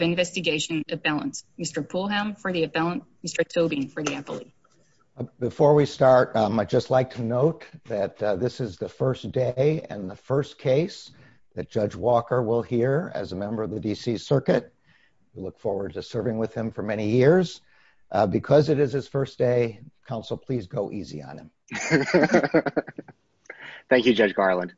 Investigation of Balance, Mr. Poulham for the appellant, Mr. Tobin for the appellate. Before we start, I'd just like to note that this is the first day and the first case that Judge Walker will hear as a member of the D.C. Circuit. We look forward to serving with him for many years. Because it is his first day, counsel, please go easy on him. Thank you, Judge Garland.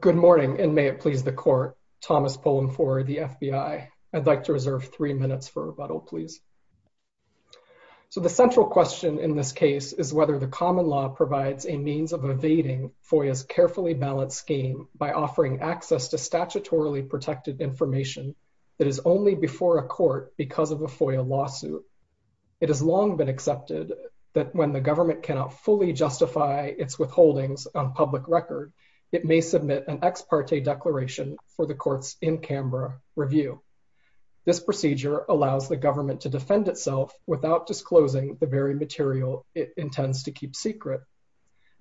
Good morning, and may it please the court, Thomas Poulham for the FBI. I'd like to reserve three minutes for rebuttal, please. So the central question in this case is whether the common law provides a means of evading FOIA's carefully balanced scheme by offering access to statutorily protected information that is only before a court because of a FOIA lawsuit. It has long been accepted that when the government cannot fully justify its withholdings on public record, it may submit an ex parte declaration for the court's in-camera review. This procedure allows the government to defend itself without disclosing the very material it intends to keep secret.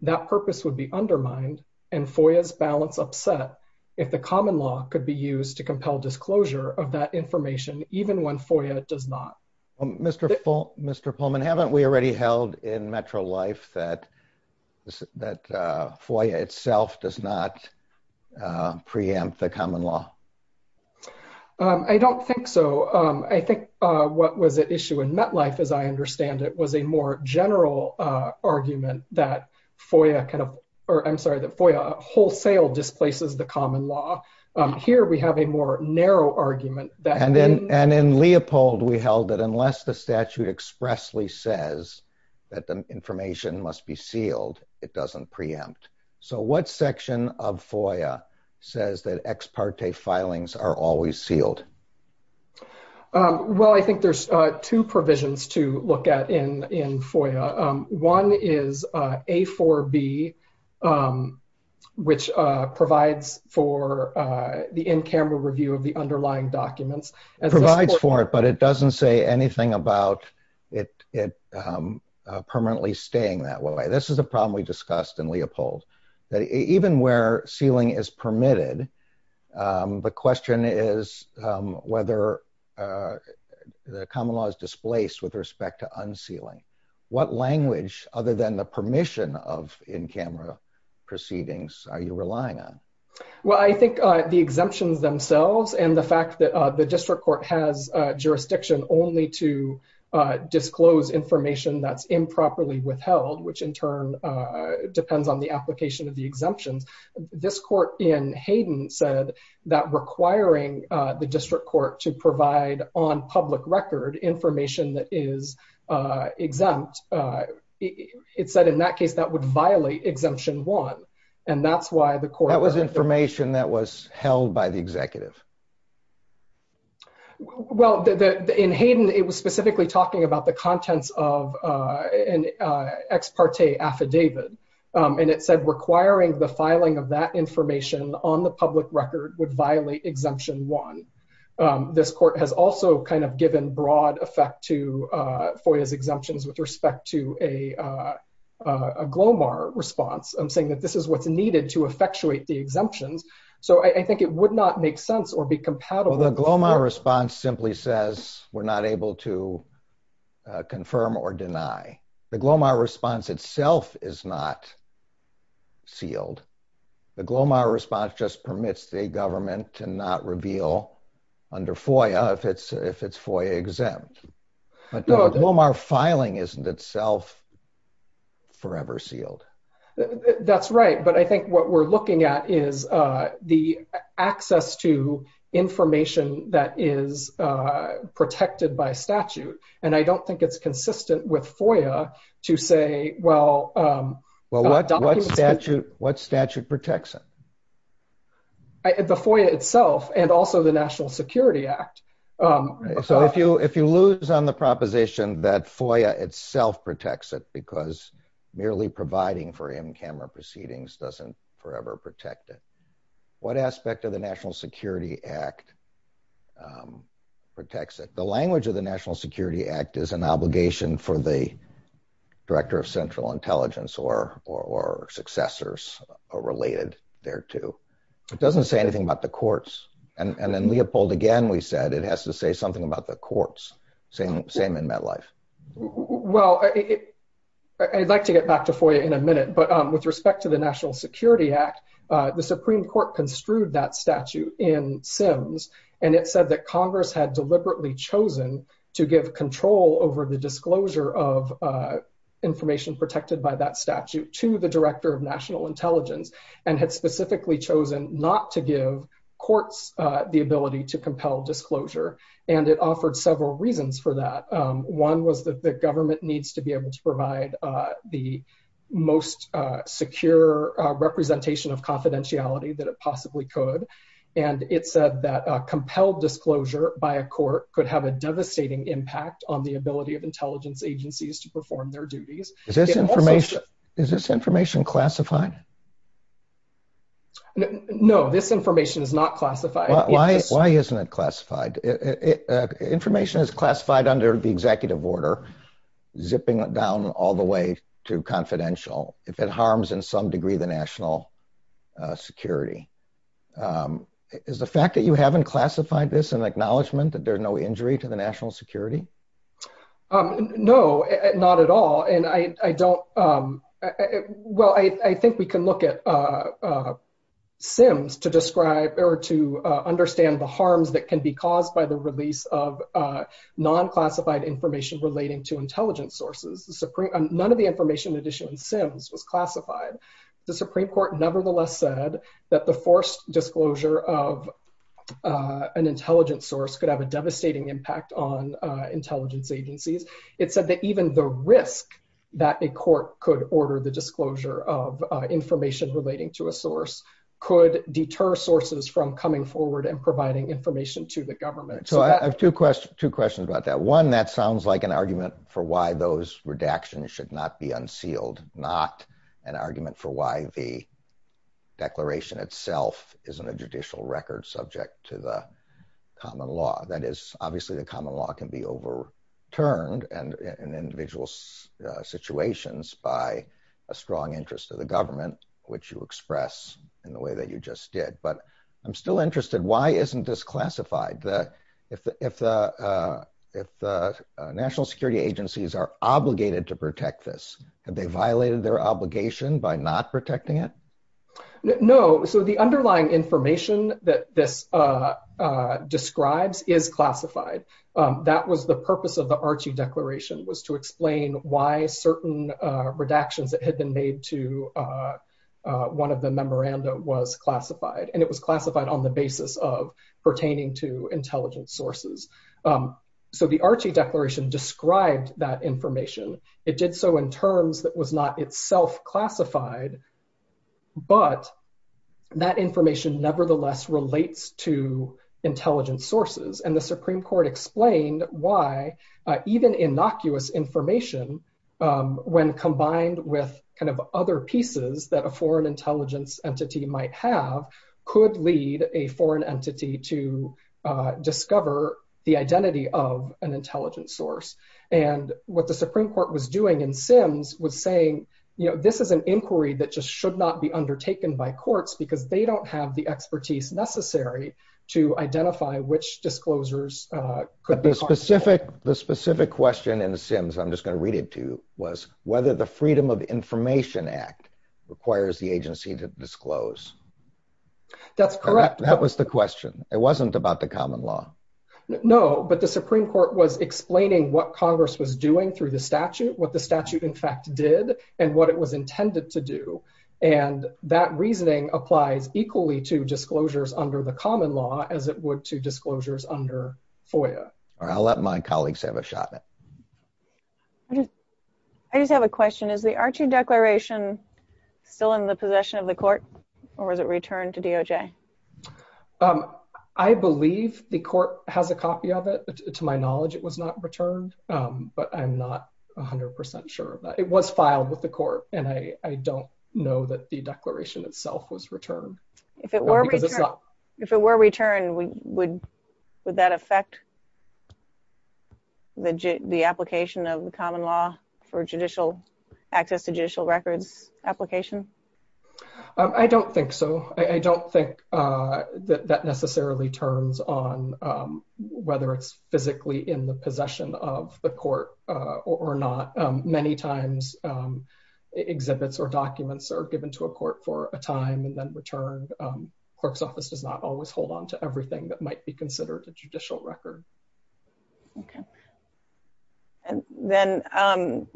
That purpose would be undermined and FOIA's balance upset if the common law could be used to compel disclosure of that information, even when FOIA does not. Mr. Poulman, haven't we already held in Metro Life that FOIA itself does not preempt the common law? I don't think so. I think what was at issue in MetLife, as I understand it, was a more general argument that FOIA kind of, or I'm sorry, that FOIA wholesale displaces the common law. Here we have a more narrow argument that- And in Leopold, we held that unless the statute expressly says that the information must be sealed, it doesn't preempt. So what section of FOIA says that ex parte filings are always sealed? Well, I think there's two provisions to look at in FOIA. One is A4B, which provides for the in-camera review of the underlying documents. It provides for it, but it doesn't say anything about it permanently staying that way. This is a problem we discussed in Leopold, that even where sealing is permitted, the question is whether the common law is displaced with respect to unsealing. What language, other than the permission of in-camera proceedings, are you relying on? Well, I think the exemptions themselves and the fact that the district court has jurisdiction only to disclose information that's improperly withheld, which in turn depends on the application of the exemptions. This court in Hayden said that requiring the district court to provide on public record information that is exempt, it said in that case that would violate Exemption 1, and that's why the court- That was information that was held by the executive. Well, in Hayden, it was specifically talking about the contents of an ex parte affidavit, and it said requiring the filing of that information on the public record would violate Exemption 1. This court has also kind of given broad effect to FOIA's exemptions with respect to a GLOMAR response, saying that this is what's needed to effectuate the exemptions. So I think it would not make sense or be compatible- Well, the GLOMAR response simply says we're not able to confirm or deny. The GLOMAR response itself is not sealed. The GLOMAR response just permits the government to not reveal under FOIA if it's FOIA exempt. But the GLOMAR filing isn't itself forever sealed. That's right. But I think what we're looking at is the access to information that is protected by statute, and I don't think it's consistent with FOIA to say, well- What statute protects it? The FOIA itself and also the National Security Act. So if you lose on the proposition that FOIA itself protects it because merely providing for in-camera proceedings doesn't forever protect it, what aspect of the National Security Act protects it? The language of the National Security Act is an obligation for the or successors or related thereto. It doesn't say anything about the courts. And then Leopold, again, we said it has to say something about the courts. Same in MetLife. Well, I'd like to get back to FOIA in a minute. But with respect to the National Security Act, the Supreme Court construed that statute in Sims, and it said that Congress had deliberately chosen to give control over the disclosure of protected by that statute to the Director of National Intelligence and had specifically chosen not to give courts the ability to compel disclosure. And it offered several reasons for that. One was that the government needs to be able to provide the most secure representation of confidentiality that it possibly could. And it said that compelled disclosure by a court could have a devastating impact on the ability of intelligence agencies to perform their duties. Is this information classified? No, this information is not classified. Why isn't it classified? Information is classified under the executive order, zipping down all the way to confidential if it harms in some degree the national security. Is the fact that you haven't classified this an acknowledgement that there's no injury to the national security? No, not at all. And I don't, well, I think we can look at Sims to describe or to understand the harms that can be caused by the release of non-classified information relating to intelligence sources. None of the information in addition in Sims was classified. The Supreme Court nevertheless said that the forced disclosure of an intelligence source could have a devastating impact on intelligence agencies. It said that even the risk that a court could order the disclosure of information relating to a source could deter sources from coming forward and providing information to the government. So I have two questions about that. One, that sounds like an argument for why those redactions should not be unsealed, not an argument for why the declaration itself isn't a judicial record subject to the common law can be overturned and in individual situations by a strong interest of the government, which you express in the way that you just did. But I'm still interested, why isn't this classified? If the national security agencies are obligated to protect this, have they violated their obligation by not protecting it? No, so the underlying information that this that was the purpose of the Archie Declaration was to explain why certain redactions that had been made to one of the memoranda was classified. And it was classified on the basis of pertaining to intelligence sources. So the Archie Declaration described that information. It did so in terms that was not itself classified, but that information nevertheless relates to intelligence sources. And the Supreme Court explained why even innocuous information, when combined with kind of other pieces that a foreign intelligence entity might have, could lead a foreign entity to discover the identity of an intelligence source. And what the Supreme Court was doing in Sims was saying, you know, this is an inquiry that just should not be undertaken by courts because they don't have the expertise necessary to identify which disclosures. The specific question in the Sims, I'm just going to read it to you, was whether the Freedom of Information Act requires the agency to disclose. That's correct. That was the question. It wasn't about the common law. No, but the Supreme Court was explaining what Congress was doing through the statute, what the statute in fact did, and what it was intended to do. And that reasoning applies equally to disclosures under the common law as it would to disclosures under FOIA. All right, I'll let my colleagues have a shot. I just have a question. Is the Archie Declaration still in the possession of the court, or was it returned to DOJ? I believe the court has a copy of it. To my knowledge, it was not returned, but I'm not 100% sure. It was filed with the court, and I don't know that the declaration itself was returned. If it were returned, would that affect the application of the common law for access to judicial records application? I don't think so. I don't think that necessarily turns on whether it's physically in the possession of the court or not. Many times, exhibits or documents are given to a court for a time and then returned. Clerk's office does not always hold on to everything that might be considered a judicial record. Okay. And then,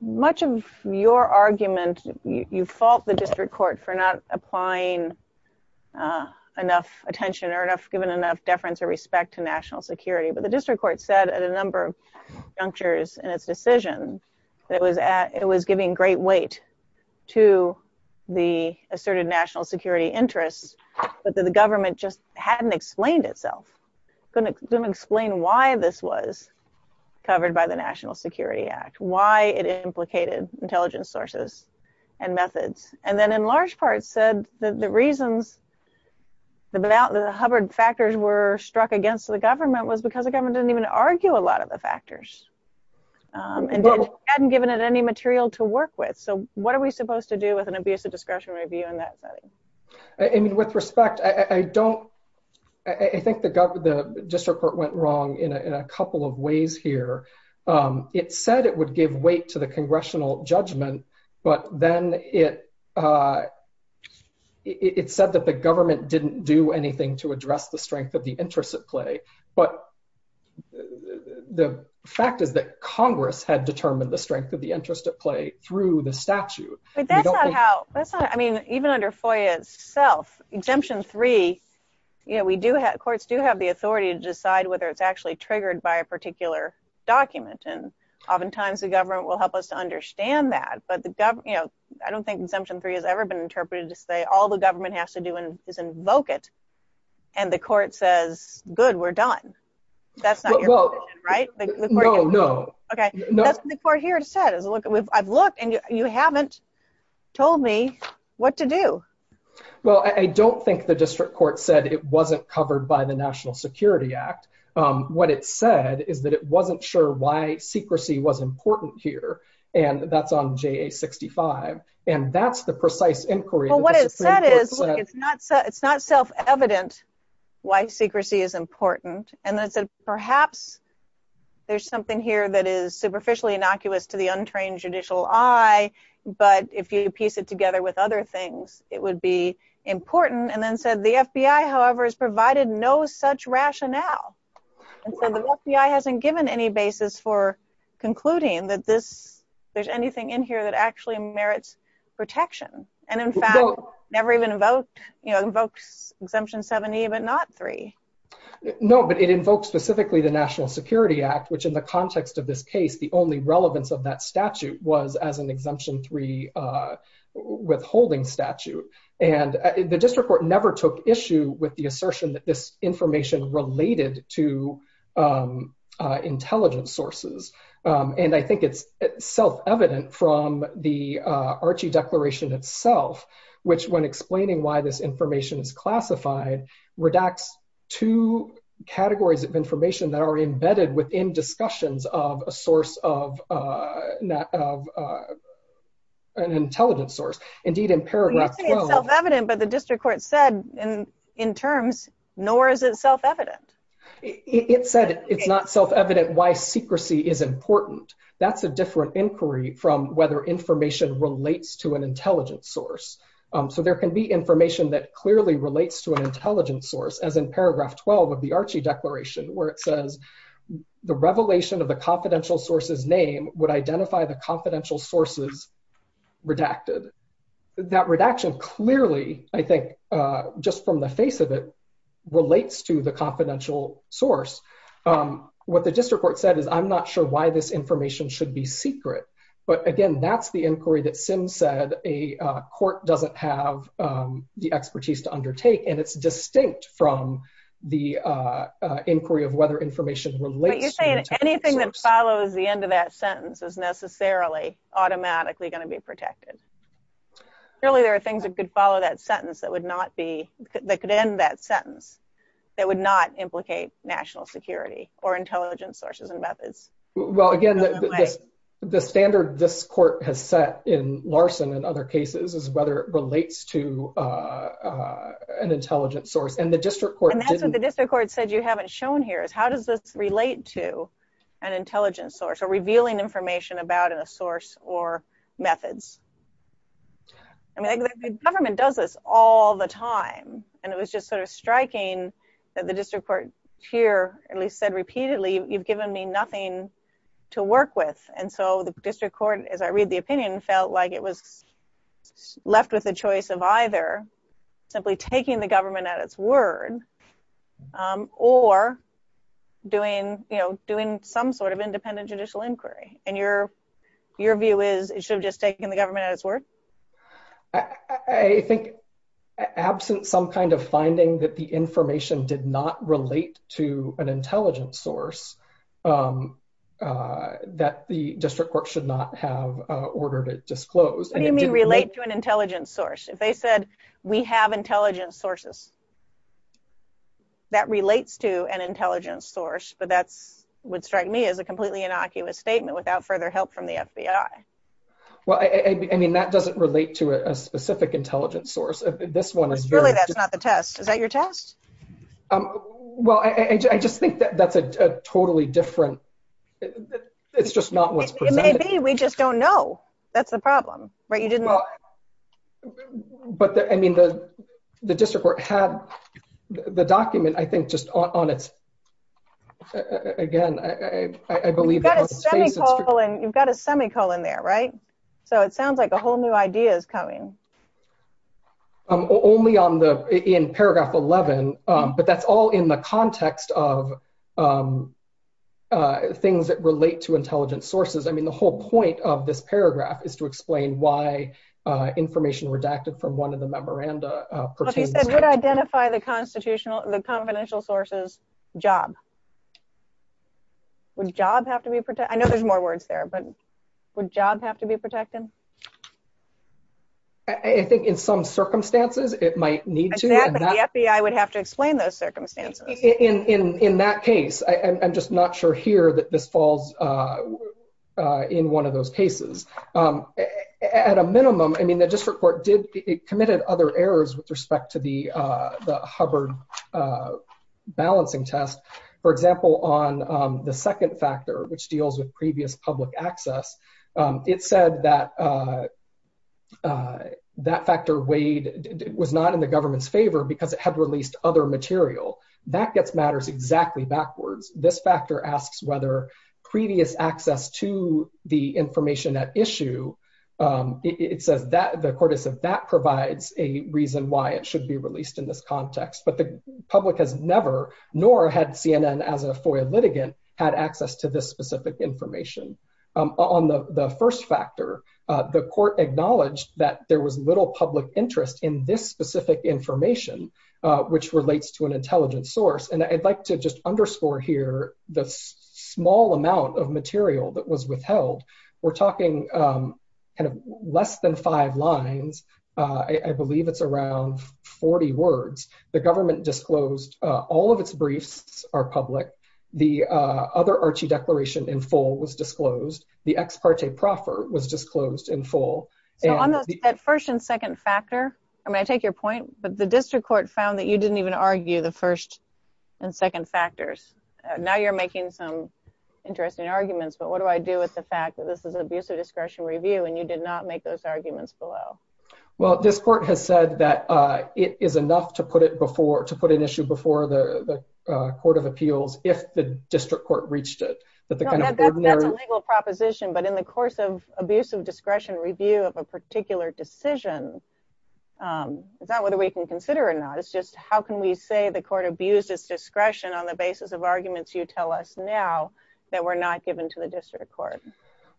much of your argument, you fault the district court for not applying enough attention or given enough deference or respect to national security. The district court said at a number of junctures in its decision that it was giving great weight to the asserted national security interests, but that the government just hadn't explained itself. Couldn't explain why this was covered by the National Security Act, why it implicated intelligence sources and methods. And then, in large part, said that the reasons the Hubbard factors were struck against the government was because the government didn't even argue a lot of the factors and hadn't given it any material to work with. So, what are we supposed to do with an abuse of discretion review in that setting? I mean, with respect, I think the district court went wrong in a couple of ways here. It said it would give weight to the congressional judgment, but then it said that the government didn't do anything to address the strength of the interest at play. But the fact is that Congress had determined the strength of the interest at play through the statute. But that's not how, I mean, even under FOIA itself, Exemption 3, courts do have the authority to decide whether it's actually triggered by a particular document. And oftentimes, the government will help us to understand that. But the government, you know, I don't think Exemption 3 has ever been interpreted to say all the government has to do is invoke it. And the court says, good, we're done. That's not your position, right? No, no. Okay, that's what the court here said. I've looked and you haven't told me what to do. Well, I don't think the district court said it wasn't covered by the National Security Act. What it said is that it wasn't sure why secrecy was important here. And that's on JA-65. And that's the precise inquiry. Well, what it said is, look, it's not self-evident why secrecy is important. And then it said, perhaps there's something here that is superficially innocuous to the untrained judicial eye. But if you piece it together with other things, it would be important. And then said, the FBI, however, has provided no such rationale. And so the FBI hasn't given any basis for concluding that there's anything in here that actually merits protection. And in fact, never even invoked Exemption 7e, but not 3. No, but it invokes specifically the National Security Act, which in the context of this case, the only relevance of that statute was as an Exemption 3 withholding statute. And the district court never took issue with the assertion that this information related to intelligence sources. And I think it's self-evident from the Archie Declaration itself, which, when explaining why this information is classified, redacts two categories of information that are embedded within discussions of a source of an intelligence source. Indeed, in paragraph 12— Well, you say it's self-evident, but the district court said in terms, nor is it self-evident. It said it's not self-evident why secrecy is important. That's a different inquiry from whether information relates to an intelligence source. So there can be information that clearly relates to an intelligence source, as in paragraph 12 of the Archie Declaration, where it says, the revelation of the confidential source's name would identify the confidential sources redacted. That redaction clearly, I think, just from the face of it, relates to the confidential source. What the district court said is, I'm not sure why this information should be secret. But again, that's the inquiry that Sims said a court doesn't have the expertise to undertake, and it's distinct from the inquiry of whether information relates to an intelligence source. But you're saying anything that follows the end of that sentence is necessarily automatically going to be protected. Clearly, there are things that could follow that sentence that would not be, that could end that sentence, that would not implicate national security or intelligence sources and methods. Well, again, the standard this court has set in Larson and other cases is whether it relates to an intelligence source. And the district court didn't- And that's what the district court said you haven't shown here, is how does this relate to an intelligence source or revealing information about a source or methods? I mean, the government does this all the time. And it was just sort of striking that the district court here at least said repeatedly, you've given me nothing to work with. And so the district court, as I read the opinion, felt like it was left with a choice of either simply taking the government at its word or doing, you know, doing some sort of independent judicial inquiry. And your view is it should have just taken the government at its word? I think, absent some kind of finding that the information did not relate to an intelligence source, that the district court should not have ordered it disclosed. What do you mean relate to an intelligence source? If they said, we have intelligence sources, that relates to an intelligence source. But that's what struck me as a completely innocuous statement without further help from the FBI. Well, I mean, that doesn't relate to a specific intelligence source. This one is- Really, that's not the test. Is that your test? Well, I just think that that's a totally different- It's just not what's presented. It may be. We just don't know. That's the problem, right? You didn't- But I mean, the district court had the document, I think, just on its- Again, I believe- You've got a semicolon there, right? So it sounds like a whole new idea is coming. Only in paragraph 11, but that's all in the context of things that relate to intelligence sources. I mean, the whole point of this paragraph is to explain why information redacted from one of the memoranda pertains- You said, would identify the confidential sources job. Would job have to be protected? I know there's more words there, but would job have to be protected? I think in some circumstances, it might need to. Exactly, the FBI would have to explain those circumstances. In that case, I'm just not sure here that this falls in one of those cases. At a minimum, I mean, the district court committed other errors with respect to the Hubbard balancing test. For example, on the second factor, which deals with previous public access, it said that that factor weighed- was not in the government's favor because it had released other material. That gets matters exactly backwards. This factor asks whether previous access to the information at issue, it says that the court has said that provides a reason why it should be released in this context. But the public has never, nor had CNN as a FOIA litigant, had access to this specific information. On the first factor, the court acknowledged that there was little public interest in this specific information, which relates to an intelligent source. And I'd like to just underscore here the small amount of material that was withheld. We're talking kind of less than five lines. I believe it's around 40 words. The government disclosed all of its briefs are public. The other Archie declaration in full was disclosed. The ex parte proffer was disclosed in full. So on that first and second factor, I mean, I take your point, but the district court found that you didn't even argue the first and second factors. Now you're making some interesting arguments. But what do I do with the fact that this is an abusive discretion review and you did not make those arguments below? Well, this court has said that it is enough to put it before, to put an issue before the Court of Appeals if the district court reached it. That's a legal proposition. But in the course of abusive discretion review of a particular decision, it's not whether we can consider it or not. It's just how can we say the court abused its discretion on the basis of arguments you tell us now that were not given to the district court?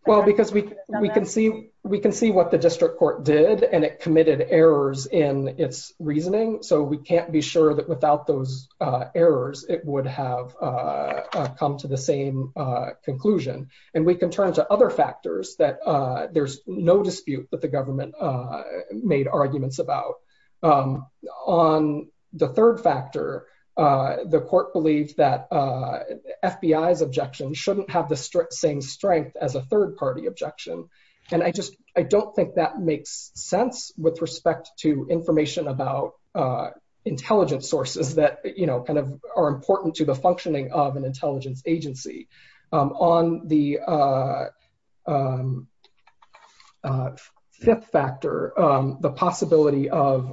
Well, because we can see what the district court did and it committed errors in its reasoning. So we can't be sure that without those errors, it would have come to the same conclusion. And we can turn to other factors that there's no dispute that the government made arguments about. On the third factor, the court believed that same strength as a third party objection. And I just, I don't think that makes sense with respect to information about intelligence sources that are important to the functioning of an intelligence agency. On the fifth factor, the possibility of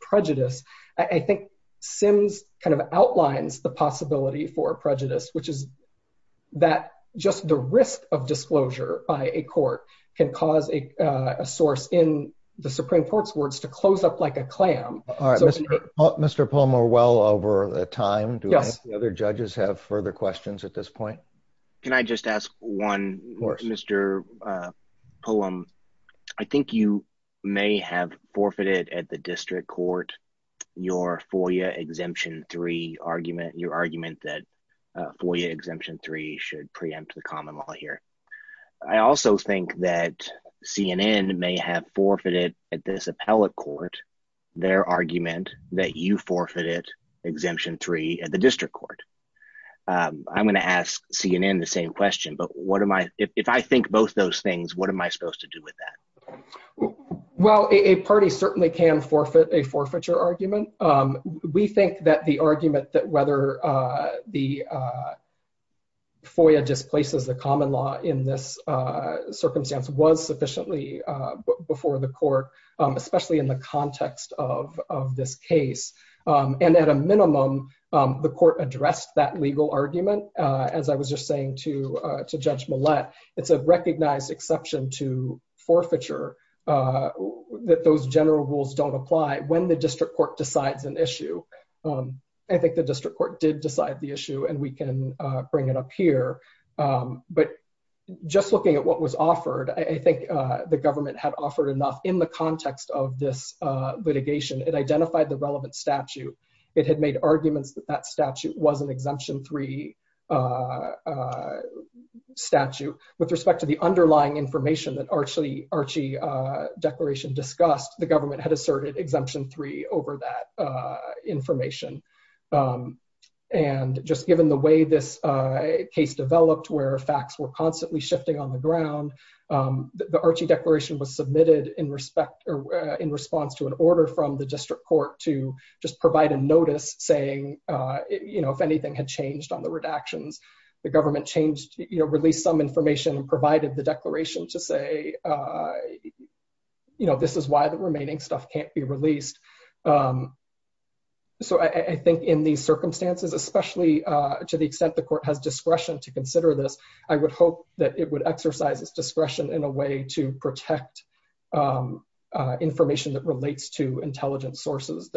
prejudice, I think Sims outlines the possibility for prejudice, which is that just the risk of disclosure by a court can cause a source in the Supreme Court's words to close up like a clam. Mr. Pullum, we're well over time. Do the other judges have further questions at this point? Can I just ask one, Mr. Pullum? I think you may have forfeited at the district court your FOIA exemption three argument, your argument that FOIA exemption three should preempt the common law here. I also think that CNN may have forfeited at this appellate court, their argument that you forfeited exemption three at the district court. I'm going to ask CNN the same question, but what am I, if I think both those things, what am I supposed to do with that? Well, a party certainly can forfeit a forfeiture argument. We think that the argument that whether the FOIA displaces the common law in this circumstance was sufficiently before the court, especially in the context of this case, and at a minimum, the court addressed that legal argument. As I was just saying to Judge Millett, it's a recognized exception to forfeiture that those general rules don't apply when the district court decides an issue. I think the district court did decide the issue, and we can bring it up here. But just looking at what was offered, I think the government had offered enough in the context of this litigation. It identified the relevant statute. It had made arguments that that statute was an exemption three statute. With respect to the underlying information that Archie Declaration discussed, the government had asserted exemption three over that information. Just given the way this case developed, where facts were constantly shifting on the ground, the Archie Declaration was submitted in response to an order from the district court to just provide a notice saying if anything had changed on the redactions, the government released some information and provided the declaration to say, this is why the remaining stuff can't be released. So I think in these circumstances, especially to the extent the court has discretion to consider this, I would hope that it would exercise its discretion in a way to protect information that relates to intelligence sources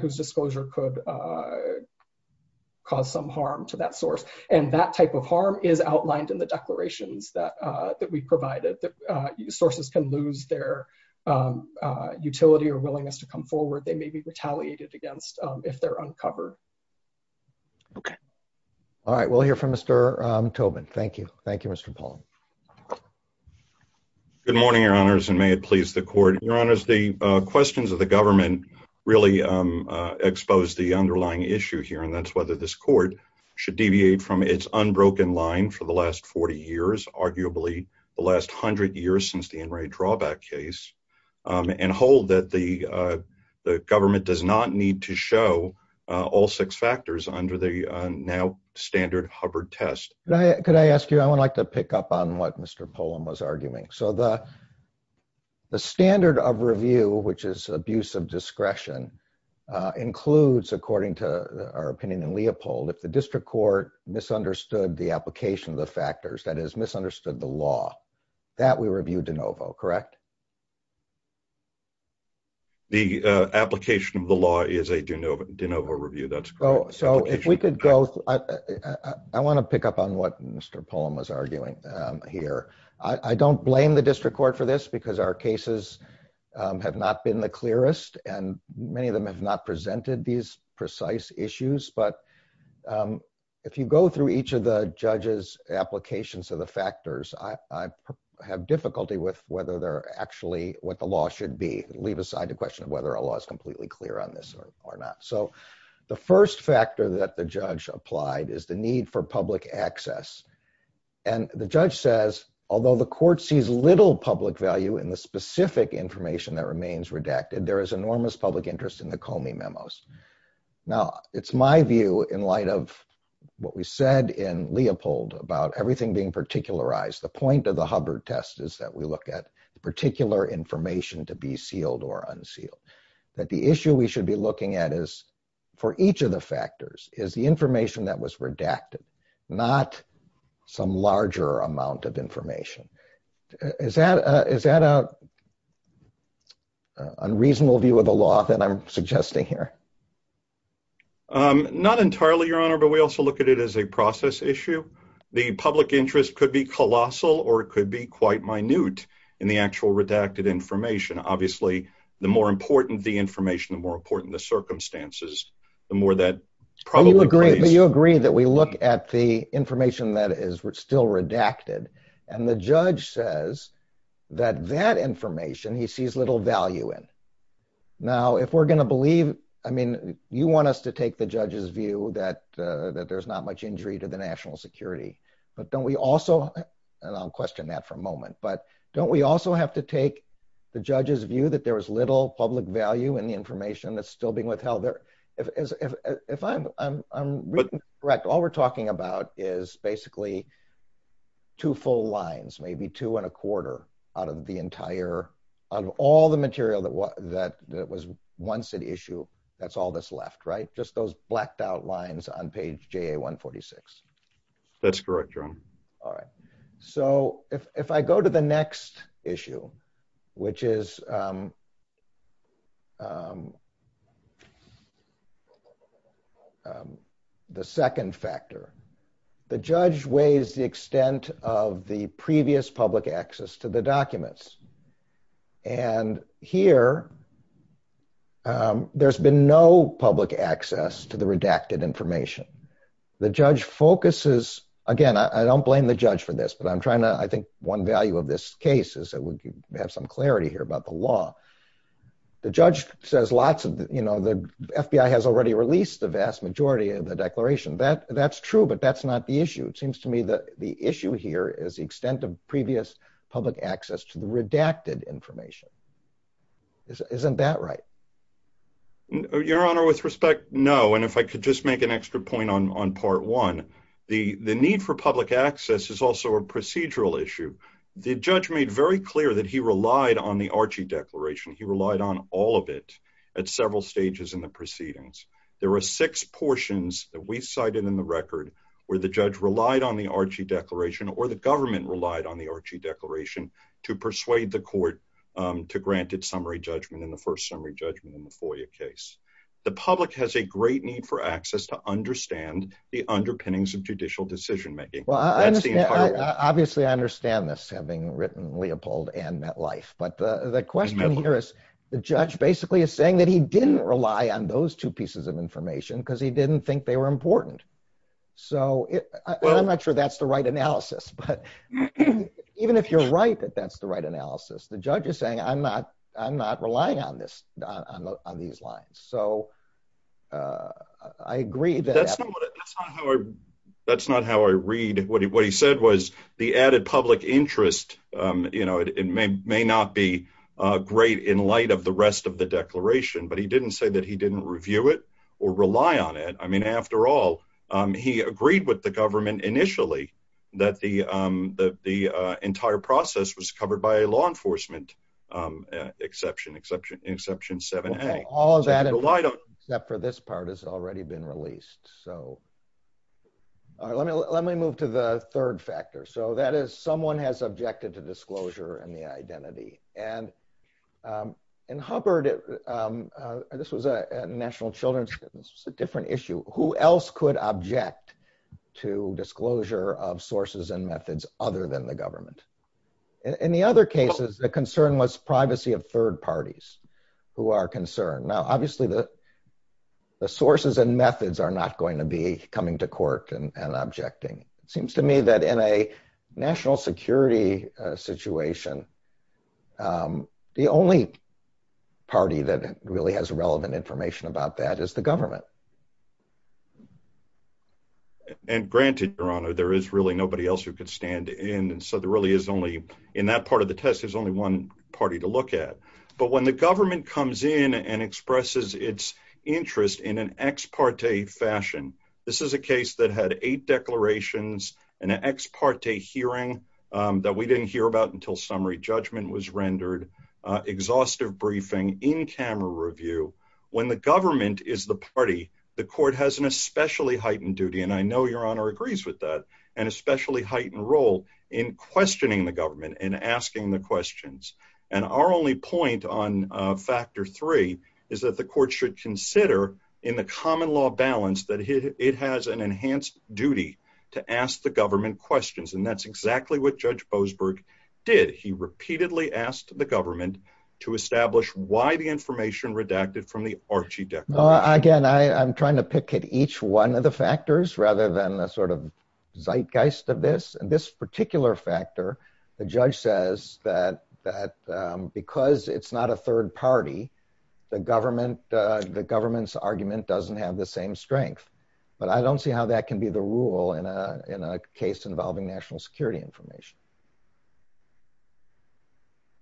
whose disclosure could cause some harm to that source. And that type of harm is outlined in the declarations that we provided, that sources can lose their utility or willingness to come forward. They may be retaliated against if they're uncovered. Okay. All right. We'll hear from Mr. Tobin. Thank you. Thank you, Mr. Paul. Good morning, your honors, and may it please the court. Your honors, the questions of the government really exposed the underlying issue here, and that's whether this court should deviate from its unbroken line for the last 40 years, arguably the last hundred years since the in-rate drawback case, and hold that the government does not need to show all six factors under the now standard Hubbard test. Could I ask you, I would like to pick up on what Mr. Polam was arguing. So the standard of review, which is abuse of discretion, includes according to our opinion in Leopold, if the district court misunderstood the application of the factors, that is misunderstood the law, that we review de novo, correct? The application of the law is a de novo review, that's correct. So if we could go, I want to pick up on what Mr. Polam was arguing here. I don't blame the district court for this, because our cases have not been the clearest, and many of them have not presented these precise issues. But if you go through each of the judge's applications of the factors, I have difficulty with whether they're actually what the law should be, leave aside the question of whether a law is completely clear on this or not. So the first factor that the judge applied is the need for public access. And the judge says, although the court sees little public value in the specific information that remains redacted, there is enormous public interest in the Comey memos. Now, it's my view in light of what we said in Leopold about everything being particularized. The point of the Hubbard test is that we look at particular information to be sealed or unsealed. That the issue we should be looking at is, for each of the factors, is the information that was redacted, not some larger amount of information. Is that an unreasonable view of the law that I'm suggesting here? Not entirely, Your Honor, but we also look at it as a process issue. The public interest could be colossal, or it could be quite minute in the actual redacted information. Obviously, the more important the information, the more important the circumstances, the more that probably plays. You agree that we look at the information that is still redacted, and the judge says that that information he sees little value in. Now, if we're going to believe, I mean, you want us to take the judge's view that there's not much injury to the national security. But don't we also, and I'll question that for a moment, but don't we also have to take the judge's view that there was little public value in the information that's still being withheld there? If I'm correct, all we're talking about is basically two full lines, maybe two and a quarter out of all the material that was once at issue. That's all that's left, right? Just those blacked out lines on page JA-146. That's correct, Your Honor. All right. So if I go to the next issue, which is the second factor, the judge weighs the extent of the previous public access to the documents. And here, there's been no public access to the redacted information. The judge focuses, again, I don't blame the judge for this, but I'm trying to, I think one value of this case is that we have some clarity here about the law. The judge says lots of, you know, the FBI has already released the vast majority of the declaration. That's true, but that's not the issue. It seems to me that the issue here is the extent of previous public access to the redacted information. Isn't that right? Your Honor, with respect, no. And if I could just make an extra point on part one, the need for public access is also a procedural issue. The judge made very clear that he relied on the Archie Declaration. He relied on all of it at several stages in the proceedings. There were six portions that we cited in the record where the judge relied on the Archie Declaration or the government relied on the Archie Declaration to persuade the court to grant its summary judgment in the first summary judgment in the FOIA case. The public has a great need for access to understand the underpinnings of judicial decision-making. Obviously, I understand this, having written Leopold and Met Life, but the question here is the judge basically is saying that he didn't rely on those two pieces of information because he didn't think they were important. So I'm not sure that's the right analysis, but even if you're right that that's the right analysis, the judge is saying I'm not relying on these lines. So I agree that- That's not how I read what he said was the added public interest, you know, it may not be great in light of the rest of the declaration, but he didn't say that he didn't review it or rely on it. I mean, after all, he agreed with the government initially that the entire process was covered by a law enforcement exception, exception 7A. All of that except for this part has already been released. So let me move to the third factor. So that is someone has objected to disclosure and the identity. And in Hubbard, this was a national children's, it's a different issue. Who else could object to disclosure of sources and methods other than the government? In the other cases, the concern was privacy of third parties who are concerned. Now, obviously, the sources and methods are not going to be coming to court and objecting. It seems to me that in a national security situation, the only party that really has relevant information about that is the government. And granted, Your Honor, there is really nobody else who could stand in. So there really is only, in that part of the test, there's only one party to look at. But when the government comes in and expresses its interest in an ex parte fashion, this is a case that had eight declarations and an ex parte hearing that we didn't hear about until summary judgment was rendered, exhaustive briefing, in-camera review. When the government is the party, the court has an especially heightened duty. And I know Your Honor agrees with that, especially heightened role in questioning the government and asking the questions. And our only point on factor three is that the court should consider, in the common law balance, that it has an enhanced duty to ask the government questions. And that's exactly what Judge Boasberg did. He repeatedly asked the government to establish why the information redacted from the Archie Declaration. Again, I'm trying to pick at each one of the factors rather than the sort of zeitgeist of this. And this particular factor, the judge says that because it's not a third party, the government's argument doesn't have the same strength. But I don't see how that can be the rule in a case involving national security information.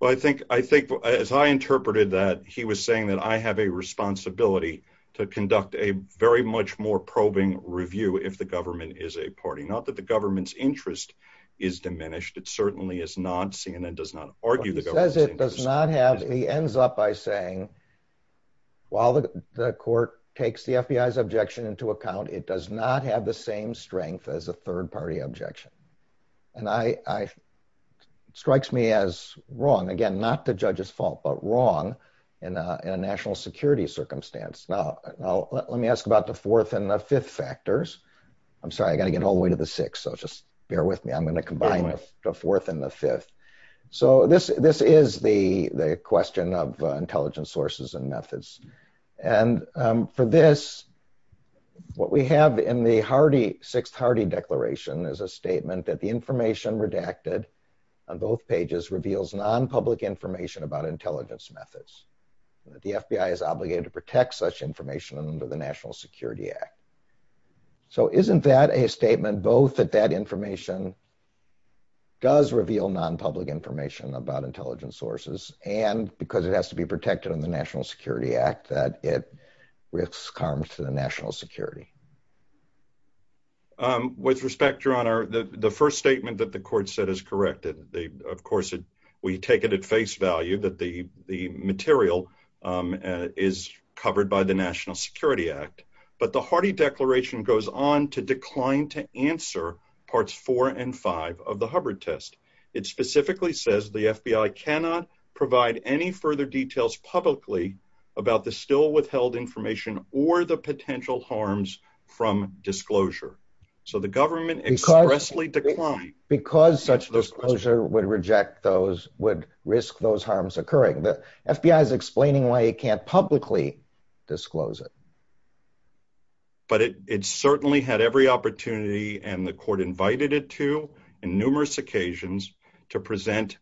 Well, I think, as I interpreted that, he was saying that I have a responsibility to conduct a very much more probing review if the government is a party. Not that the government's interest is diminished. It certainly is not. CNN does not argue the government's interest. But he says it does not have. He ends up by saying, while the court takes the FBI's objection into account, it does not have the same strength as a third party objection. And it strikes me as wrong. Again, not the judge's fault, but wrong in a national security circumstance. Now, let me ask about the fourth and the fifth factors. I'm sorry, I got to get all the way to the sixth. So just bear with me. I'm going to combine the fourth and the fifth. So this is the question of intelligence sources and methods. And for this, what we have in the 6th Hardy Declaration is a statement that the information redacted on both pages reveals non-public information about intelligence methods. The FBI is obligated to protect such information under the National Security Act. So isn't that a statement both that that information does reveal non-public information about intelligence sources, and because it has to be protected in the National Security Act, that it risks harm to the national security? With respect, Your Honor, the first statement that the court said is correct. Of course, we take it at face value that the material is covered by the National Security Act. But the Hardy Declaration goes on to decline to answer parts four and five of the Hubbard test. It specifically says the FBI cannot provide any further details publicly about the still withheld information or the potential harms from disclosure. So the government expressly declined. Because such disclosure would risk those harms occurring. The FBI is explaining why it can't publicly disclose it. But it certainly had every opportunity, and the court invited it to in numerous occasions to present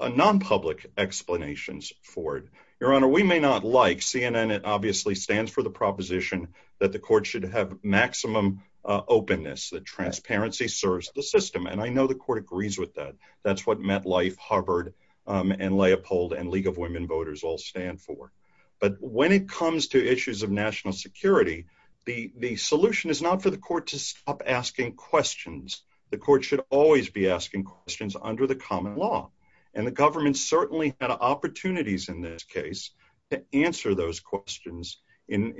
non-public explanations for it. Your Honor, we may not like CNN, it obviously stands for the proposition that the court should have maximum openness, that transparency serves the system. And I know the court agrees with that. That's what MetLife, Hubbard, and Leopold and League of Women Voters all stand for. But when it comes to issues of national security, the solution is not for the court to stop asking questions. The court should always be asking questions under the common law. And the government certainly had opportunities in this case to answer those questions in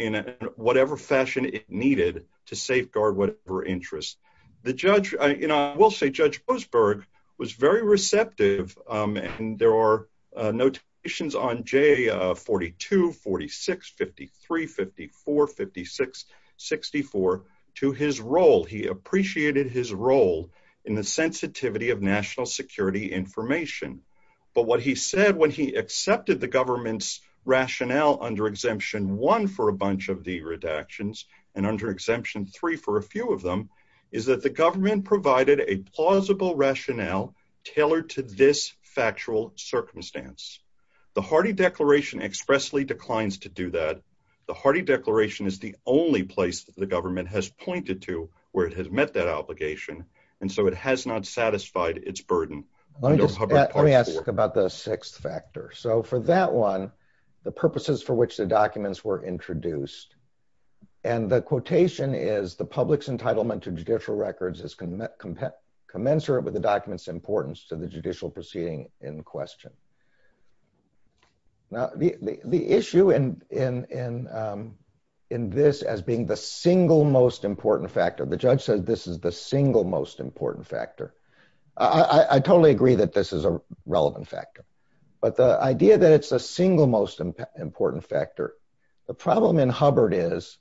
whatever fashion it needed to safeguard whatever interests. The judge, and I will say Judge Boasberg was very receptive. And there are notations on J42, 46, 53, 54, 56, 64 to his role. He appreciated his role in the sensitivity of national security information. But what he said when he accepted the government's rationale under Exemption 1 for a bunch of the redactions, and under Exemption 3 for a few of them, is that the government provided a plausible rationale tailored to this factual circumstance. The Hardy Declaration expressly declines to do that. The Hardy Declaration is the only place that the government has pointed to where it has met that obligation. And so it has not satisfied its burden. Let me ask about the sixth factor. So for that one, the purposes for which the documents were introduced. And the quotation is, the public's entitlement to judicial records is commensurate with the document's importance to the judicial proceeding in question. Now, the issue in this as being the single most important factor, the judge said this is the single most important factor. I totally agree that this is a relevant factor. But the idea that it's a single most important factor, the problem in Hubbard is,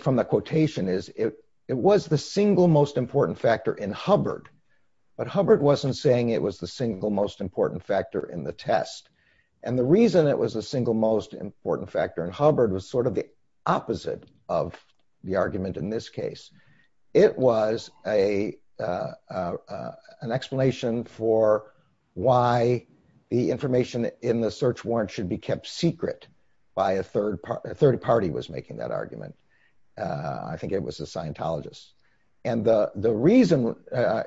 from the quotation is, it was the single most important factor in Hubbard. But Hubbard wasn't saying it was the single most important factor in the test. And the reason it was a single most important factor in Hubbard was sort of the opposite of the argument in this case. It was an explanation for why the information in the search warrant should be kept secret by a third party was making that argument. I think it was a Scientologist. And the reason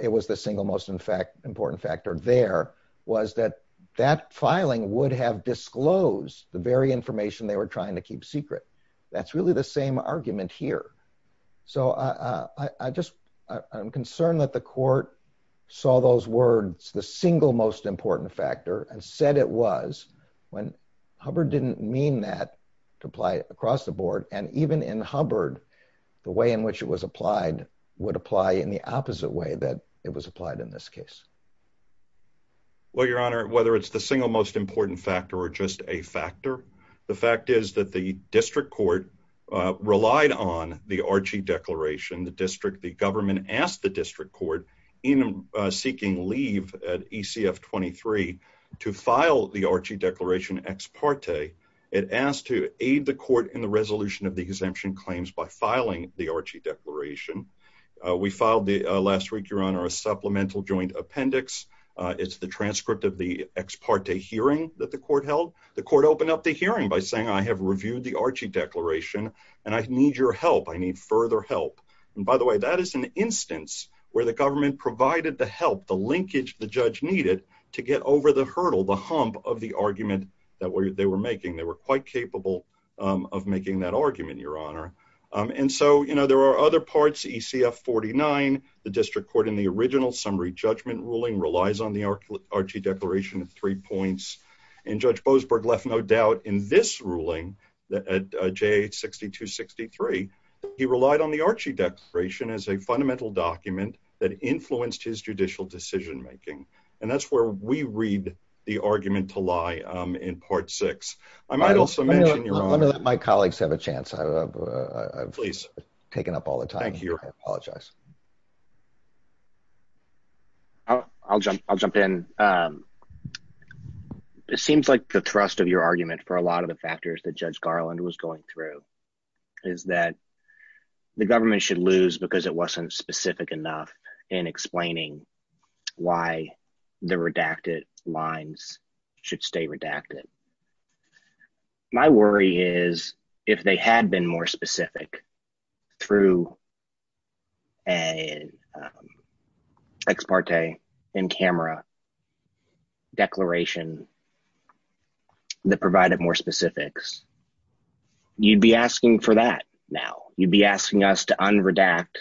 it was the single most important factor there was that that filing would have disclosed the very information they were trying to keep secret. That's really the same argument here. So I just, I'm concerned that the court saw those words, the single most important factor and said it was when Hubbard didn't mean that to apply across the board. And even in Hubbard, the way in which it was applied would apply in the opposite way that it was applied in this case. Well, Your Honor, whether it's the single most important factor or just a factor. The fact is that the district court relied on the Archie Declaration. The district, the government asked the district court in seeking leave at ECF 23 to file the Archie Declaration ex parte. It asked to aid the court in the resolution of the exemption claims by filing the Archie Declaration. We filed the last week, Your Honor, a supplemental joint appendix. It's the transcript of the ex parte hearing that the court held. The court opened up the hearing by saying, I have reviewed the Archie Declaration and I need your help. I need further help. And by the way, that is an instance where the government provided the help, the linkage the judge needed to get over the hurdle, the hump of the argument that they were making. They were quite capable of making that argument, Your Honor. And so, you know, there are other parts. ECF 49, the district court in the original summary judgment ruling relies on the Archie Declaration of three points. And Judge Boasberg left no doubt in this ruling that at J 6263, he relied on the Archie Declaration as a fundamental document that influenced his judicial decision making. And that's where we read the argument to lie in part six. I might also mention, Your Honor. Let me let my colleagues have a chance. Please. I've taken up all the time. Thank you. I apologize. I'll jump, I'll jump in. It seems like the thrust of your argument for a lot of the factors that Judge Garland was going through is that the government should lose because it wasn't specific enough in explaining why the redacted lines should stay redacted. My worry is if they had been more specific through an ex parte in camera declaration that provided more specifics, you'd be asking for that now. You'd be asking us to unredact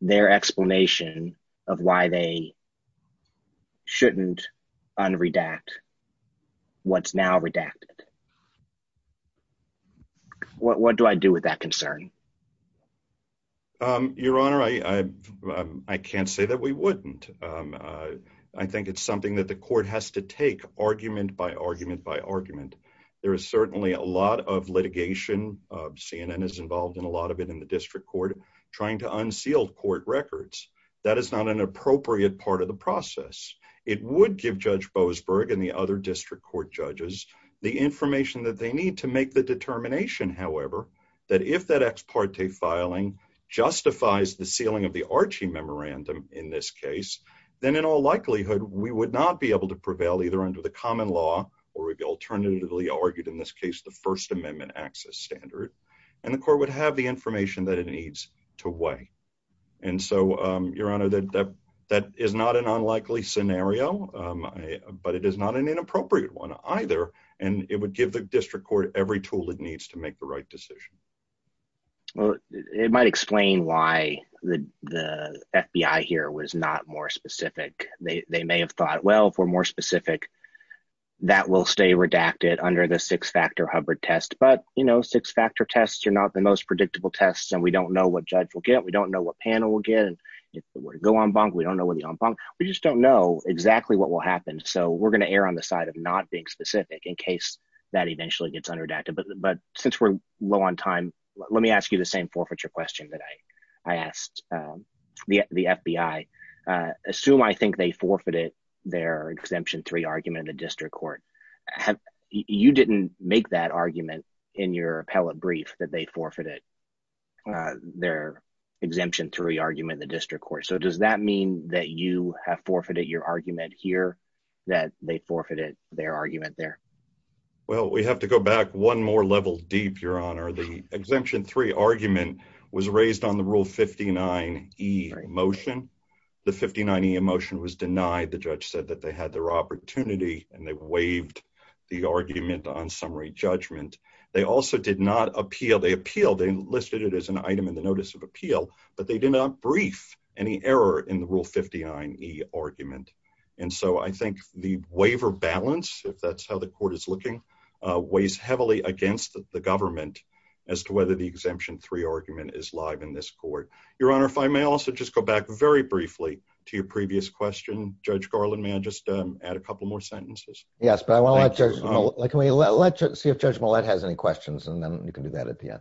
their explanation of why they shouldn't unredact what's now redacted. What do I do with that concern? Um, Your Honor, I, I, I can't say that we wouldn't. I think it's something that the court has to take argument by argument by argument. There is certainly a lot of litigation. CNN is involved in a lot of it in the district court, trying to unseal court records. That is not an appropriate part of the process. It would give Judge Boasberg and the other district court judges the information that they need to make the determination, however, that if that ex parte filing justifies the sealing of the Archie memorandum in this case, then in all likelihood, we would not be able to prevail either under the common law or we'd be alternatively argued in this case, the first amendment access standard, and the court would have the information that it needs to weigh. And so, um, Your Honor, that, that, that is not an unlikely scenario, um, but it is not an inappropriate one either. And it would give the district court every tool it needs to make the right decision. Well, it might explain why the, the FBI here was not more specific. They may have thought, well, for more specific, that will stay redacted under the six factor Hubbard test. But, you know, six factor tests are not the most predictable tests. And we don't know what judge will get. We don't know what panel will get. And if it were to go en banc, we don't know what the en banc. We just don't know exactly what will happen. So we're going to err on the side of not being specific in case that eventually gets under redacted. But, but since we're low on time, let me ask you the same forfeiture question that I, I asked, um, the, the FBI, uh, assume, I think they forfeited their exemption three argument in the district court. You didn't make that argument in your appellate brief that they forfeited, uh, their exemption three argument in the district court. So does that mean that you have forfeited your argument here that they forfeited their argument there? Well, we have to go back one more level deep, your honor. The exemption three argument was raised on the rule 59 E motion. The 59 E motion was denied. The judge said that they had their opportunity and they waived the argument on summary judgment. They also did not appeal. They appealed, they listed it as an item in the notice of appeal, but they did not brief any error in the rule 59 E argument. And so I think the waiver balance, if that's how the court is looking, uh, weighs heavily against the government as to whether the exemption three argument is live in this court. Your honor, if I may also just go back very briefly to your previous question, judge Garland, may I just, um, add a couple more sentences? Yes. But I want to let judge, can we let judge, see if judge Millett has any questions and then you can do that at the end.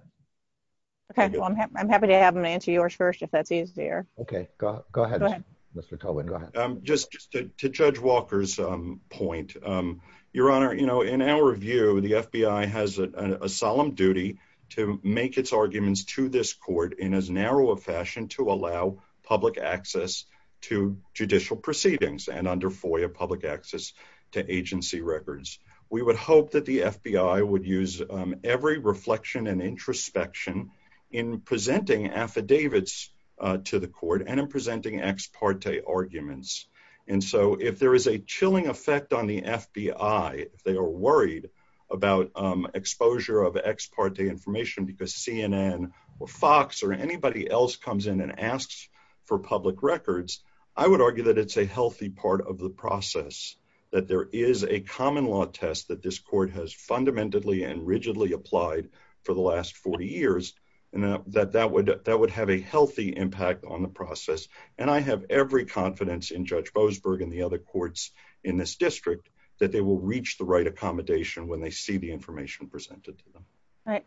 Okay. Well, I'm happy. I'm happy to have them answer yours first, if that's easier. Okay. Go ahead. Go ahead. Mr. Colvin, go ahead. Um, just to judge Walker's, um, point, um, your honor, you know, in our view, the FBI has a solemn duty to make its arguments to this court in as narrow a fashion to allow public access to judicial proceedings and under FOIA public access to agency records. We would hope that the FBI would use, um, every reflection and introspection in presenting affidavits, uh, to the court and in presenting ex parte arguments. And so if there is a chilling effect on the FBI, if they are worried about, um, exposure of ex parte information because CNN or Fox or anybody else comes in and asks for public records, I would argue that it's a healthy part of the process, that there is a common law test that this court has fundamentally and rigidly applied for the last 40 years. And that, that would, that would have a healthy impact on the process. And I have every confidence in Judge Boasberg and the other courts in this district that they will reach the right accommodation when they see the information presented to them. Right.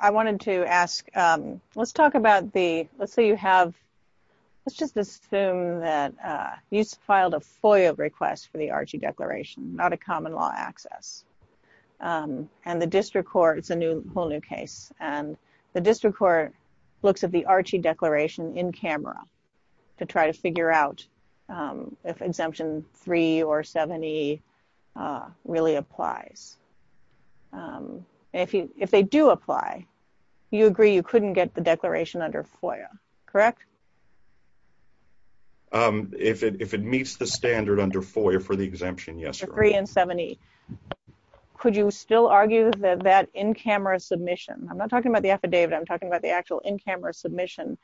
I wanted to ask, um, let's talk about the, let's say you have, let's just assume that, uh, you filed a FOIA request for the Archie declaration, not a common law access. Um, and the district court, it's a new, whole new case. And the district court looks at the Archie declaration in camera to try to figure out, um, if exemption three or 70, uh, really applies. Um, if you, if they do apply, you agree, you couldn't get the declaration under FOIA, correct? Um, if it, if it meets the standard under FOIA for the exemption, yes. Three and 70. Could you still argue that that in-camera submission, I'm not talking about the affidavit. I'm talking about the actual in-camera submission.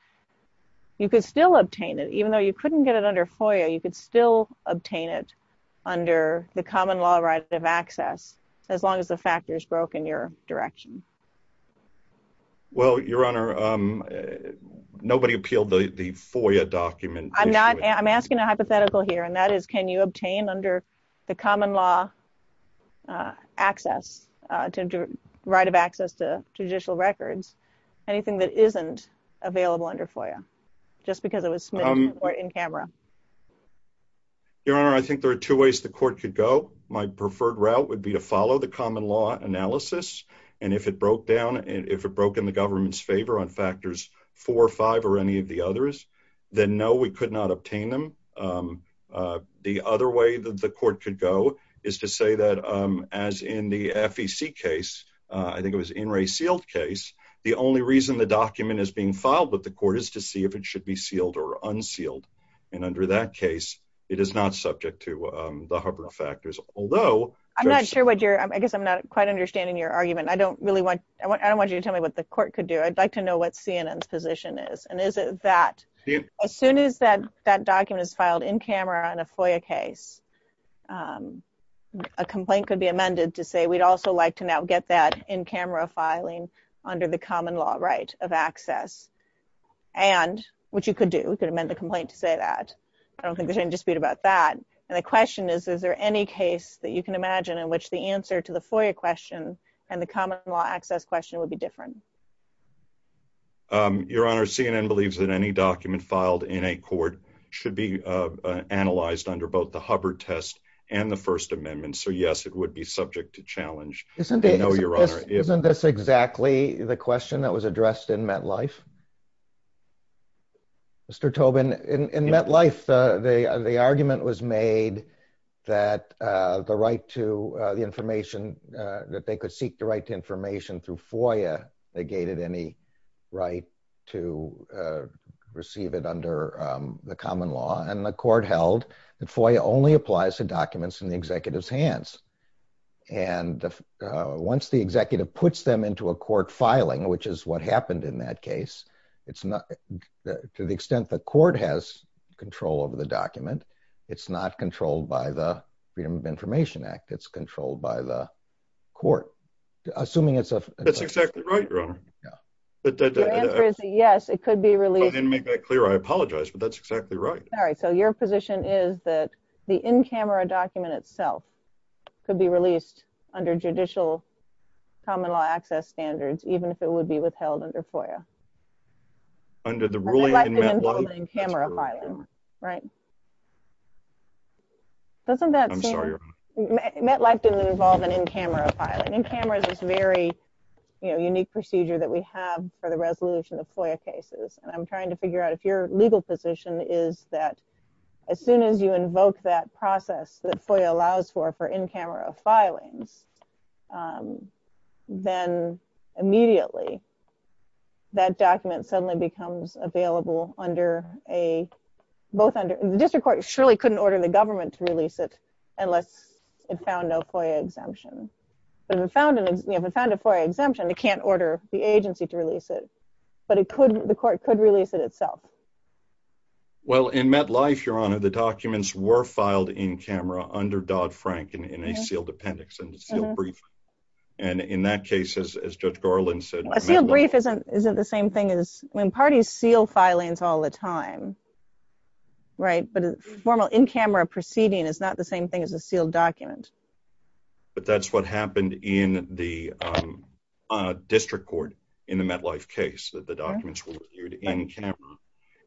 You could still obtain it, even though you couldn't get it under FOIA, you could still obtain it under the common law right of access. As long as the factors broke in your direction. Well, your honor, um, nobody appealed the FOIA document. I'm not, I'm asking a hypothetical here. That is, can you obtain under the common law, uh, access, uh, to right of access to judicial records, anything that isn't available under FOIA just because it was in camera. Your honor, I think there are two ways the court could go. My preferred route would be to follow the common law analysis. And if it broke down and if it broke in the government's favor on factors four or five or any of the others, then no, we could not obtain them. Um, uh, the other way that the court could go is to say that, um, as in the FEC case, uh, I think it was in Ray sealed case. The only reason the document is being filed with the court is to see if it should be sealed or unsealed. And under that case, it is not subject to, um, the hover factors, although I'm not sure what you're, I guess I'm not quite understanding your argument. I don't really want, I don't want you to tell me what the court could do. I'd like to know what CNN's position is. And is it that as soon as that, that document is filed in camera on a FOIA case, um, a complaint could be amended to say, we'd also like to now get that in camera filing under the common law right of access and what you could do. We could amend the complaint to say that I don't think there's any dispute about that. And the question is, is there any case that you can imagine in which the answer to the FOIA question and the common law access question would be different? Um, your honor, CNN believes that any document filed in a court should be, uh, analyzed under both the Hubbard test and the first amendment. So yes, it would be subject to challenge. Isn't this exactly the question that was addressed in MetLife? Mr. Tobin in MetLife, uh, the, uh, the argument was made that, uh, the right to the information, that they could seek the right to information through FOIA negated any right to, uh, receive it under, um, the common law and the court held that FOIA only applies to documents in the executive's hands. And, uh, once the executive puts them into a court filing, which is what happened in that case, it's not to the extent that court has control over the document. It's not controlled by the freedom of information act. It's controlled by the court. Assuming it's a, that's exactly right. Your honor. Yeah. But the answer is yes, it could be released and make that clear. I apologize, but that's exactly right. All right. So your position is that the in camera document itself could be released under judicial common law access standards, even if it would be withheld under FOIA under the ruling camera filing, right? Doesn't that, I'm sorry, met life didn't involve an in camera filing and cameras is very, you know, unique procedure that we have for the resolution of FOIA cases. And I'm trying to figure out if your legal position is that as soon as you invoke that process that FOIA allows for, for in camera filings, um, then immediately that document suddenly becomes available under a, both under the district court, surely couldn't order the government to release it unless it found no FOIA exemption, but if it found an, if it found a FOIA exemption, it can't order the agency to release it, but it could, the court could release it itself. Well, in met life, your honor, the documents were filed in camera under Dodd-Frank in a sealed appendix and it's still brief. And in that case, as, as judge Garland said, Sealed brief isn't, isn't the same thing as when parties seal filings all the time, right? But formal in camera proceeding is not the same thing as a sealed document. But that's what happened in the, um, uh, district court in the met life case that the documents were viewed in camera.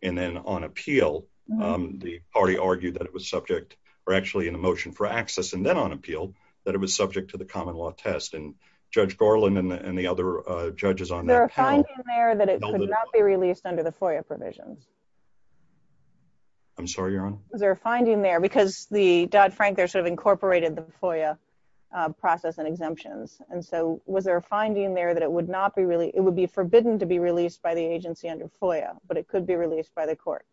And then on appeal, um, the party argued that it was subject or actually in a motion for access and then on appeal that it was subject to the common law test. Judge Garland and the, and the other, uh, judges on there that it could not be released under the FOIA provisions. I'm sorry, your honor. Is there a finding there? Because the Dodd-Frank there sort of incorporated the FOIA, uh, process and exemptions. And so was there a finding there that it would not be really, it would be forbidden to be released by the agency under FOIA, but it could be released by the court.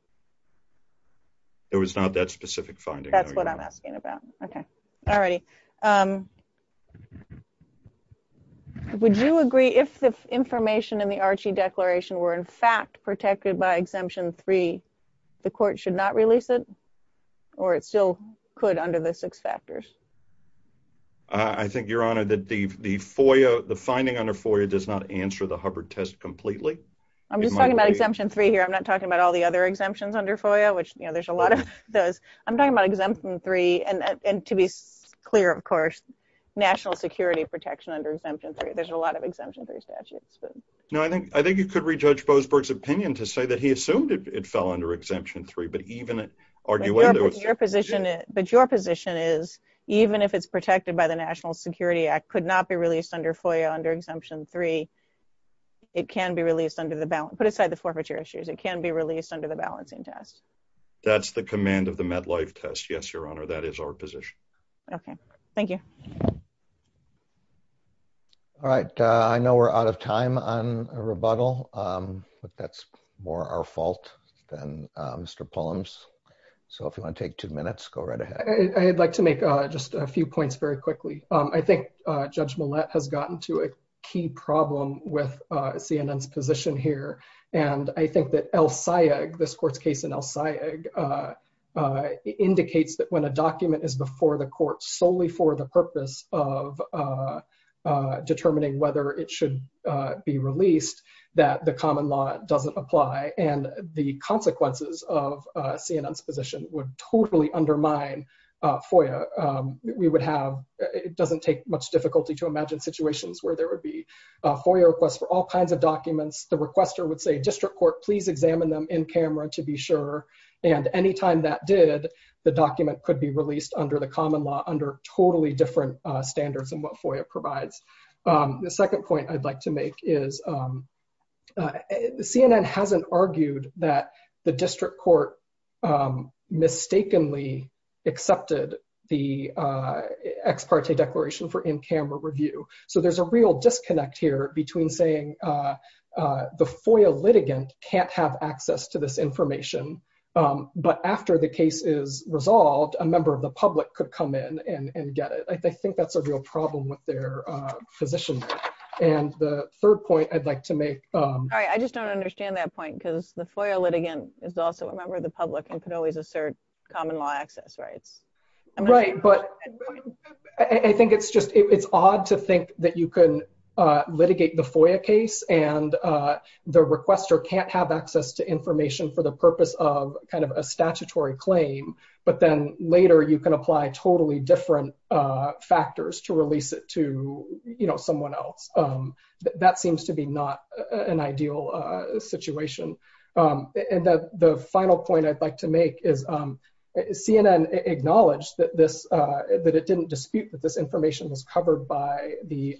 There was not that specific finding. That's what I'm asking about. Okay. All righty. Um, would you agree if the information in the Archie declaration were in fact protected by exemption three, the court should not release it or it still could under the six factors? I think your honor that the, the FOIA, the finding under FOIA does not answer the Hubbard test completely. I'm just talking about exemption three here. I'm not talking about all the other exemptions under FOIA, which, you know, there's a lot of those. I'm talking about exemption three and, and to be clear, of course, national security protection under exemption three. There's a lot of exemption three statutes, but. No, I think, I think you could rejudge Bozberg's opinion to say that he assumed it fell under exemption three, but even argue whether it was. Your position, but your position is even if it's protected by the national security act could not be released under FOIA under exemption three, it can be released under the balance, put aside the forfeiture issues. It can be released under the balancing test. That's the command of the med life test. Yes. Your honor. That is our position. Okay. Thank you. All right. I know we're out of time on a rebuttal, but that's more our fault than Mr. Palms. So if you want to take two minutes, go right ahead. I'd like to make just a few points very quickly. I think judge Millett has gotten to a key problem with CNN's position here. And I think that El Sayegh, this court's case in El Sayegh indicates that when a document is before the court solely for the purpose of determining whether it should be released, that the common law doesn't apply and the consequences of CNN's position would totally undermine FOIA. We would have, it doesn't take much difficulty to imagine situations where there would be FOIA requests for all kinds of documents. The requester would say, district court, please examine them in camera to be sure. And anytime that did, the document could be released under the common law under totally different standards than what FOIA provides. The second point I'd like to make is CNN hasn't argued that the district court mistakenly accepted the ex parte declaration for in-camera review. So there's a real disconnect here between saying the FOIA litigant can't have access to this information, but after the case is resolved, a member of the public could come in and get it. I think that's a real problem with their position. And the third point I'd like to make- All right. I just don't understand that point because the FOIA litigant is also a member of the public and could always assert common law access rights. Right. But I think it's just, it's odd to think that you can litigate the FOIA case and the requester can't have access to information for the purpose of kind of a statutory claim, but then later you can apply totally different factors to release it to someone else. That seems to be not an ideal situation. And the final point I'd like to make is CNN acknowledged that it didn't dispute that this information was covered by the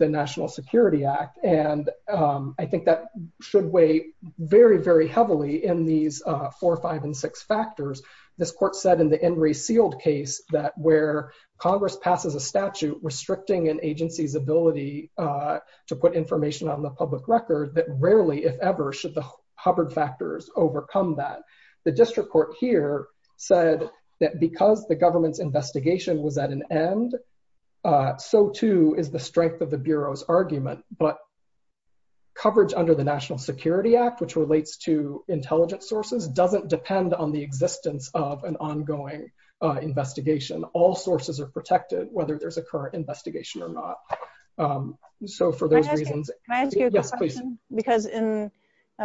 National Security Act. And I think that should weigh very, very heavily in these four, five, and six factors. This court said in the In Re Sealed case that where Congress passes a statute restricting an agency's ability to put information on the public record that rarely, if ever, should Hubbard factors overcome that. The district court here said that because the government's investigation was at an end, so too is the strength of the Bureau's argument. But coverage under the National Security Act, which relates to intelligence sources, doesn't depend on the existence of an ongoing investigation. All sources are protected, whether there's a current investigation or not. So for those reasons- Can I ask you a question? Yes, please. Because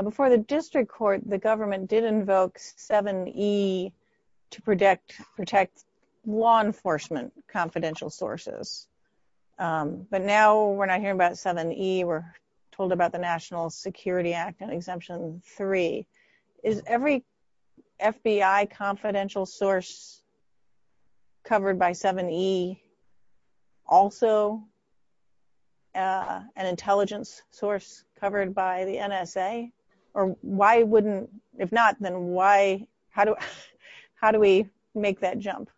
before the district court, the government did invoke 7E to protect law enforcement confidential sources. But now we're not hearing about 7E. We're told about the National Security Act Exemption 3. Is every FBI confidential source covered by 7E also an intelligence source covered by the NSA? Or why wouldn't, if not, then why, how do we make that jump?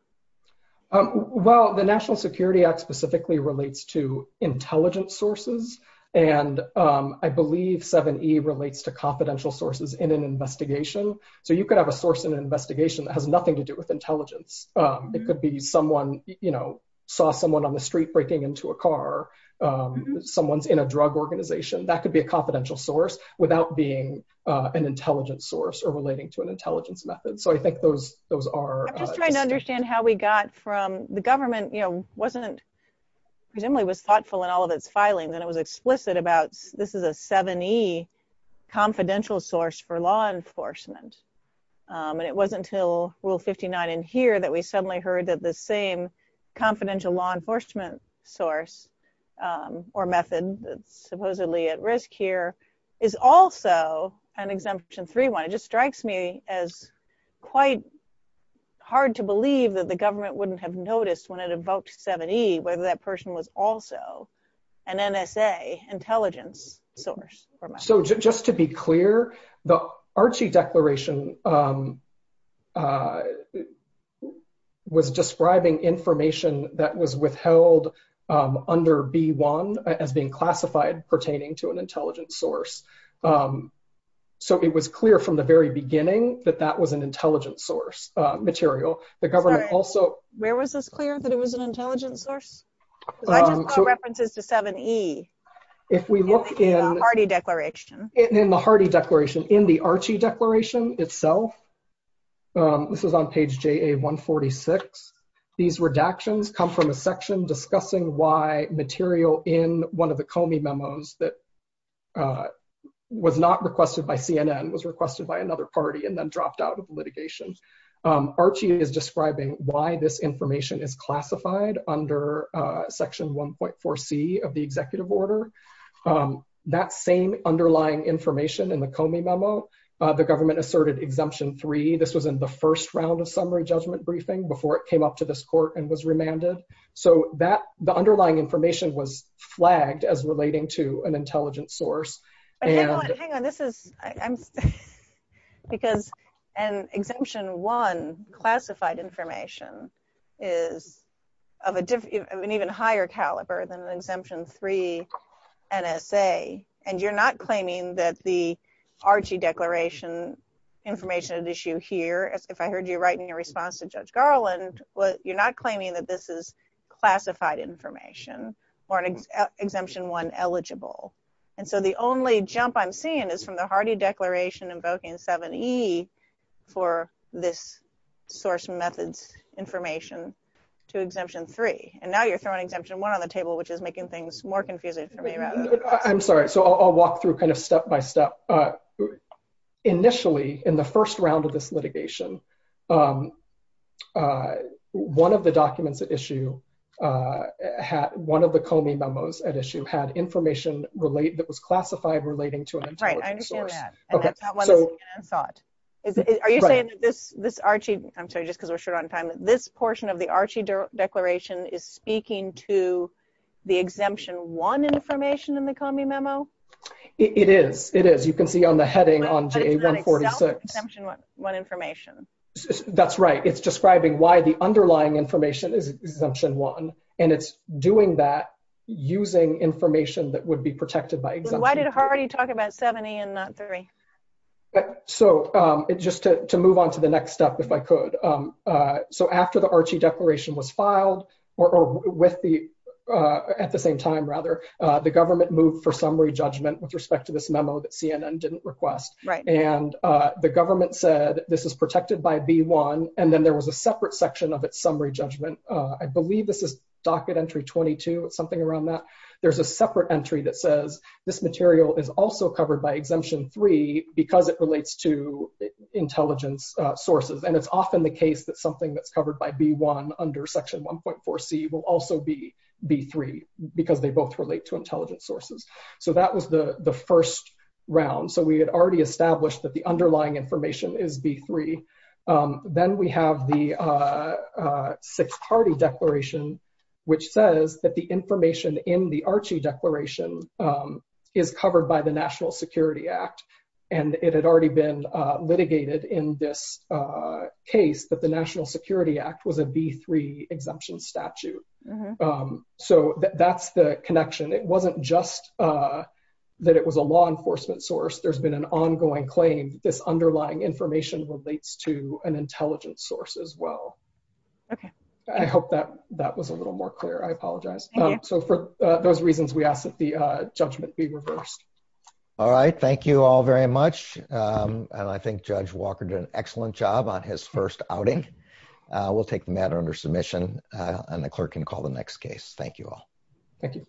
Well, the National Security Act specifically relates to intelligence sources. And I believe 7E relates to confidential sources in an investigation. So you could have a source in an investigation that has nothing to do with intelligence. It could be someone, you know, saw someone on the street breaking into a car. Someone's in a drug organization. That could be a confidential source without being an intelligence source or relating to an intelligence method. So I think those are- I'm just trying to understand how we got from- the government, you know, wasn't- presumably was thoughtful in all of its filing. Then it was explicit about this is a 7E confidential source for law enforcement. And it wasn't until Rule 59 in here that we suddenly heard that the same confidential law enforcement source or method that's supposedly at risk here is also an Exemption 3 one. It just strikes me as quite hard to believe that the government wouldn't have noticed when it invoked 7E whether that person was also an NSA intelligence source. So just to be clear, the Archie Declaration was describing information that was withheld under B1 as being classified pertaining to an intelligence source. So it was clear from the very beginning that that was an intelligence source material. The government also- Where was this clear that it was an intelligence source? I just got references to 7E. If we look in- In the Hardy Declaration. In the Hardy Declaration. In the Archie Declaration itself, this is on page JA-146, these redactions come from a section discussing why material in one of the Comey memos that was not requested by CNN, was requested by another party, and then dropped out of litigation. Archie is describing why this information is classified under section 1.4C of the executive order. That same underlying information in the Comey memo, the government asserted Exemption 3. This was in the first round of summary judgment briefing before it came up to this court and was remanded. So the underlying information was flagged as relating to an intelligence source. Hang on, this is- Because an Exemption 1 classified information is of an even higher caliber than an Exemption 3 NSA, and you're not claiming that the Archie Declaration information at issue here, if I heard you right in your response to Judge Garland, you're not claiming that this is classified information or an Exemption 1 eligible. And so the only jump I'm seeing is from the Hardy Declaration invoking 7E for this source methods information to Exemption 3. And now you're throwing Exemption 1 on the table, which is making things more confusing for me. I'm sorry, so I'll walk through kind of step by step. So, one of the documents at issue, one of the Comey memos at issue had information that was classified relating to an intelligence source. Right, I understand that, and that's not what I thought. Are you saying that this Archie, I'm sorry, just because we're short on time, this portion of the Archie Declaration is speaking to the Exemption 1 information in the Comey memo? It is, it is. You can see on the heading on GA-146. Exemption 1 information. That's right, it's describing why the underlying information is Exemption 1, and it's doing that using information that would be protected by Exemption 1. Why did Hardy talk about 7E and not 3? So, just to move on to the next step, if I could. So after the Archie Declaration was filed, or with the, at the same time, rather, the government moved for summary judgment with respect to this memo that CNN didn't request. Right. And the government said this is protected by B1, and then there was a separate section of its summary judgment. I believe this is docket entry 22, something around that. There's a separate entry that says this material is also covered by Exemption 3 because it relates to intelligence sources. And it's often the case that something that's covered by B1 under Section 1.4c will also be B3 because they both relate to intelligence sources. So that was the first round. So we had already established that the underlying information is B3. Then we have the Sixth Hardy Declaration, which says that the information in the Archie Declaration is covered by the National Security Act. And it had already been litigated in this case that the National Security Act was a B3 exemption statute. So that's the connection. It wasn't just that it was a law enforcement source. There's been an ongoing claim that this underlying information relates to an intelligence source as well. Okay. I hope that that was a little more clear. I apologize. So for those reasons, we ask that the judgment be reversed. All right. Thank you all very much. And I think Judge Walker did an excellent job on his first outing. We'll take the matter under submission, and the clerk can call the next case. Thank you all. Thank you.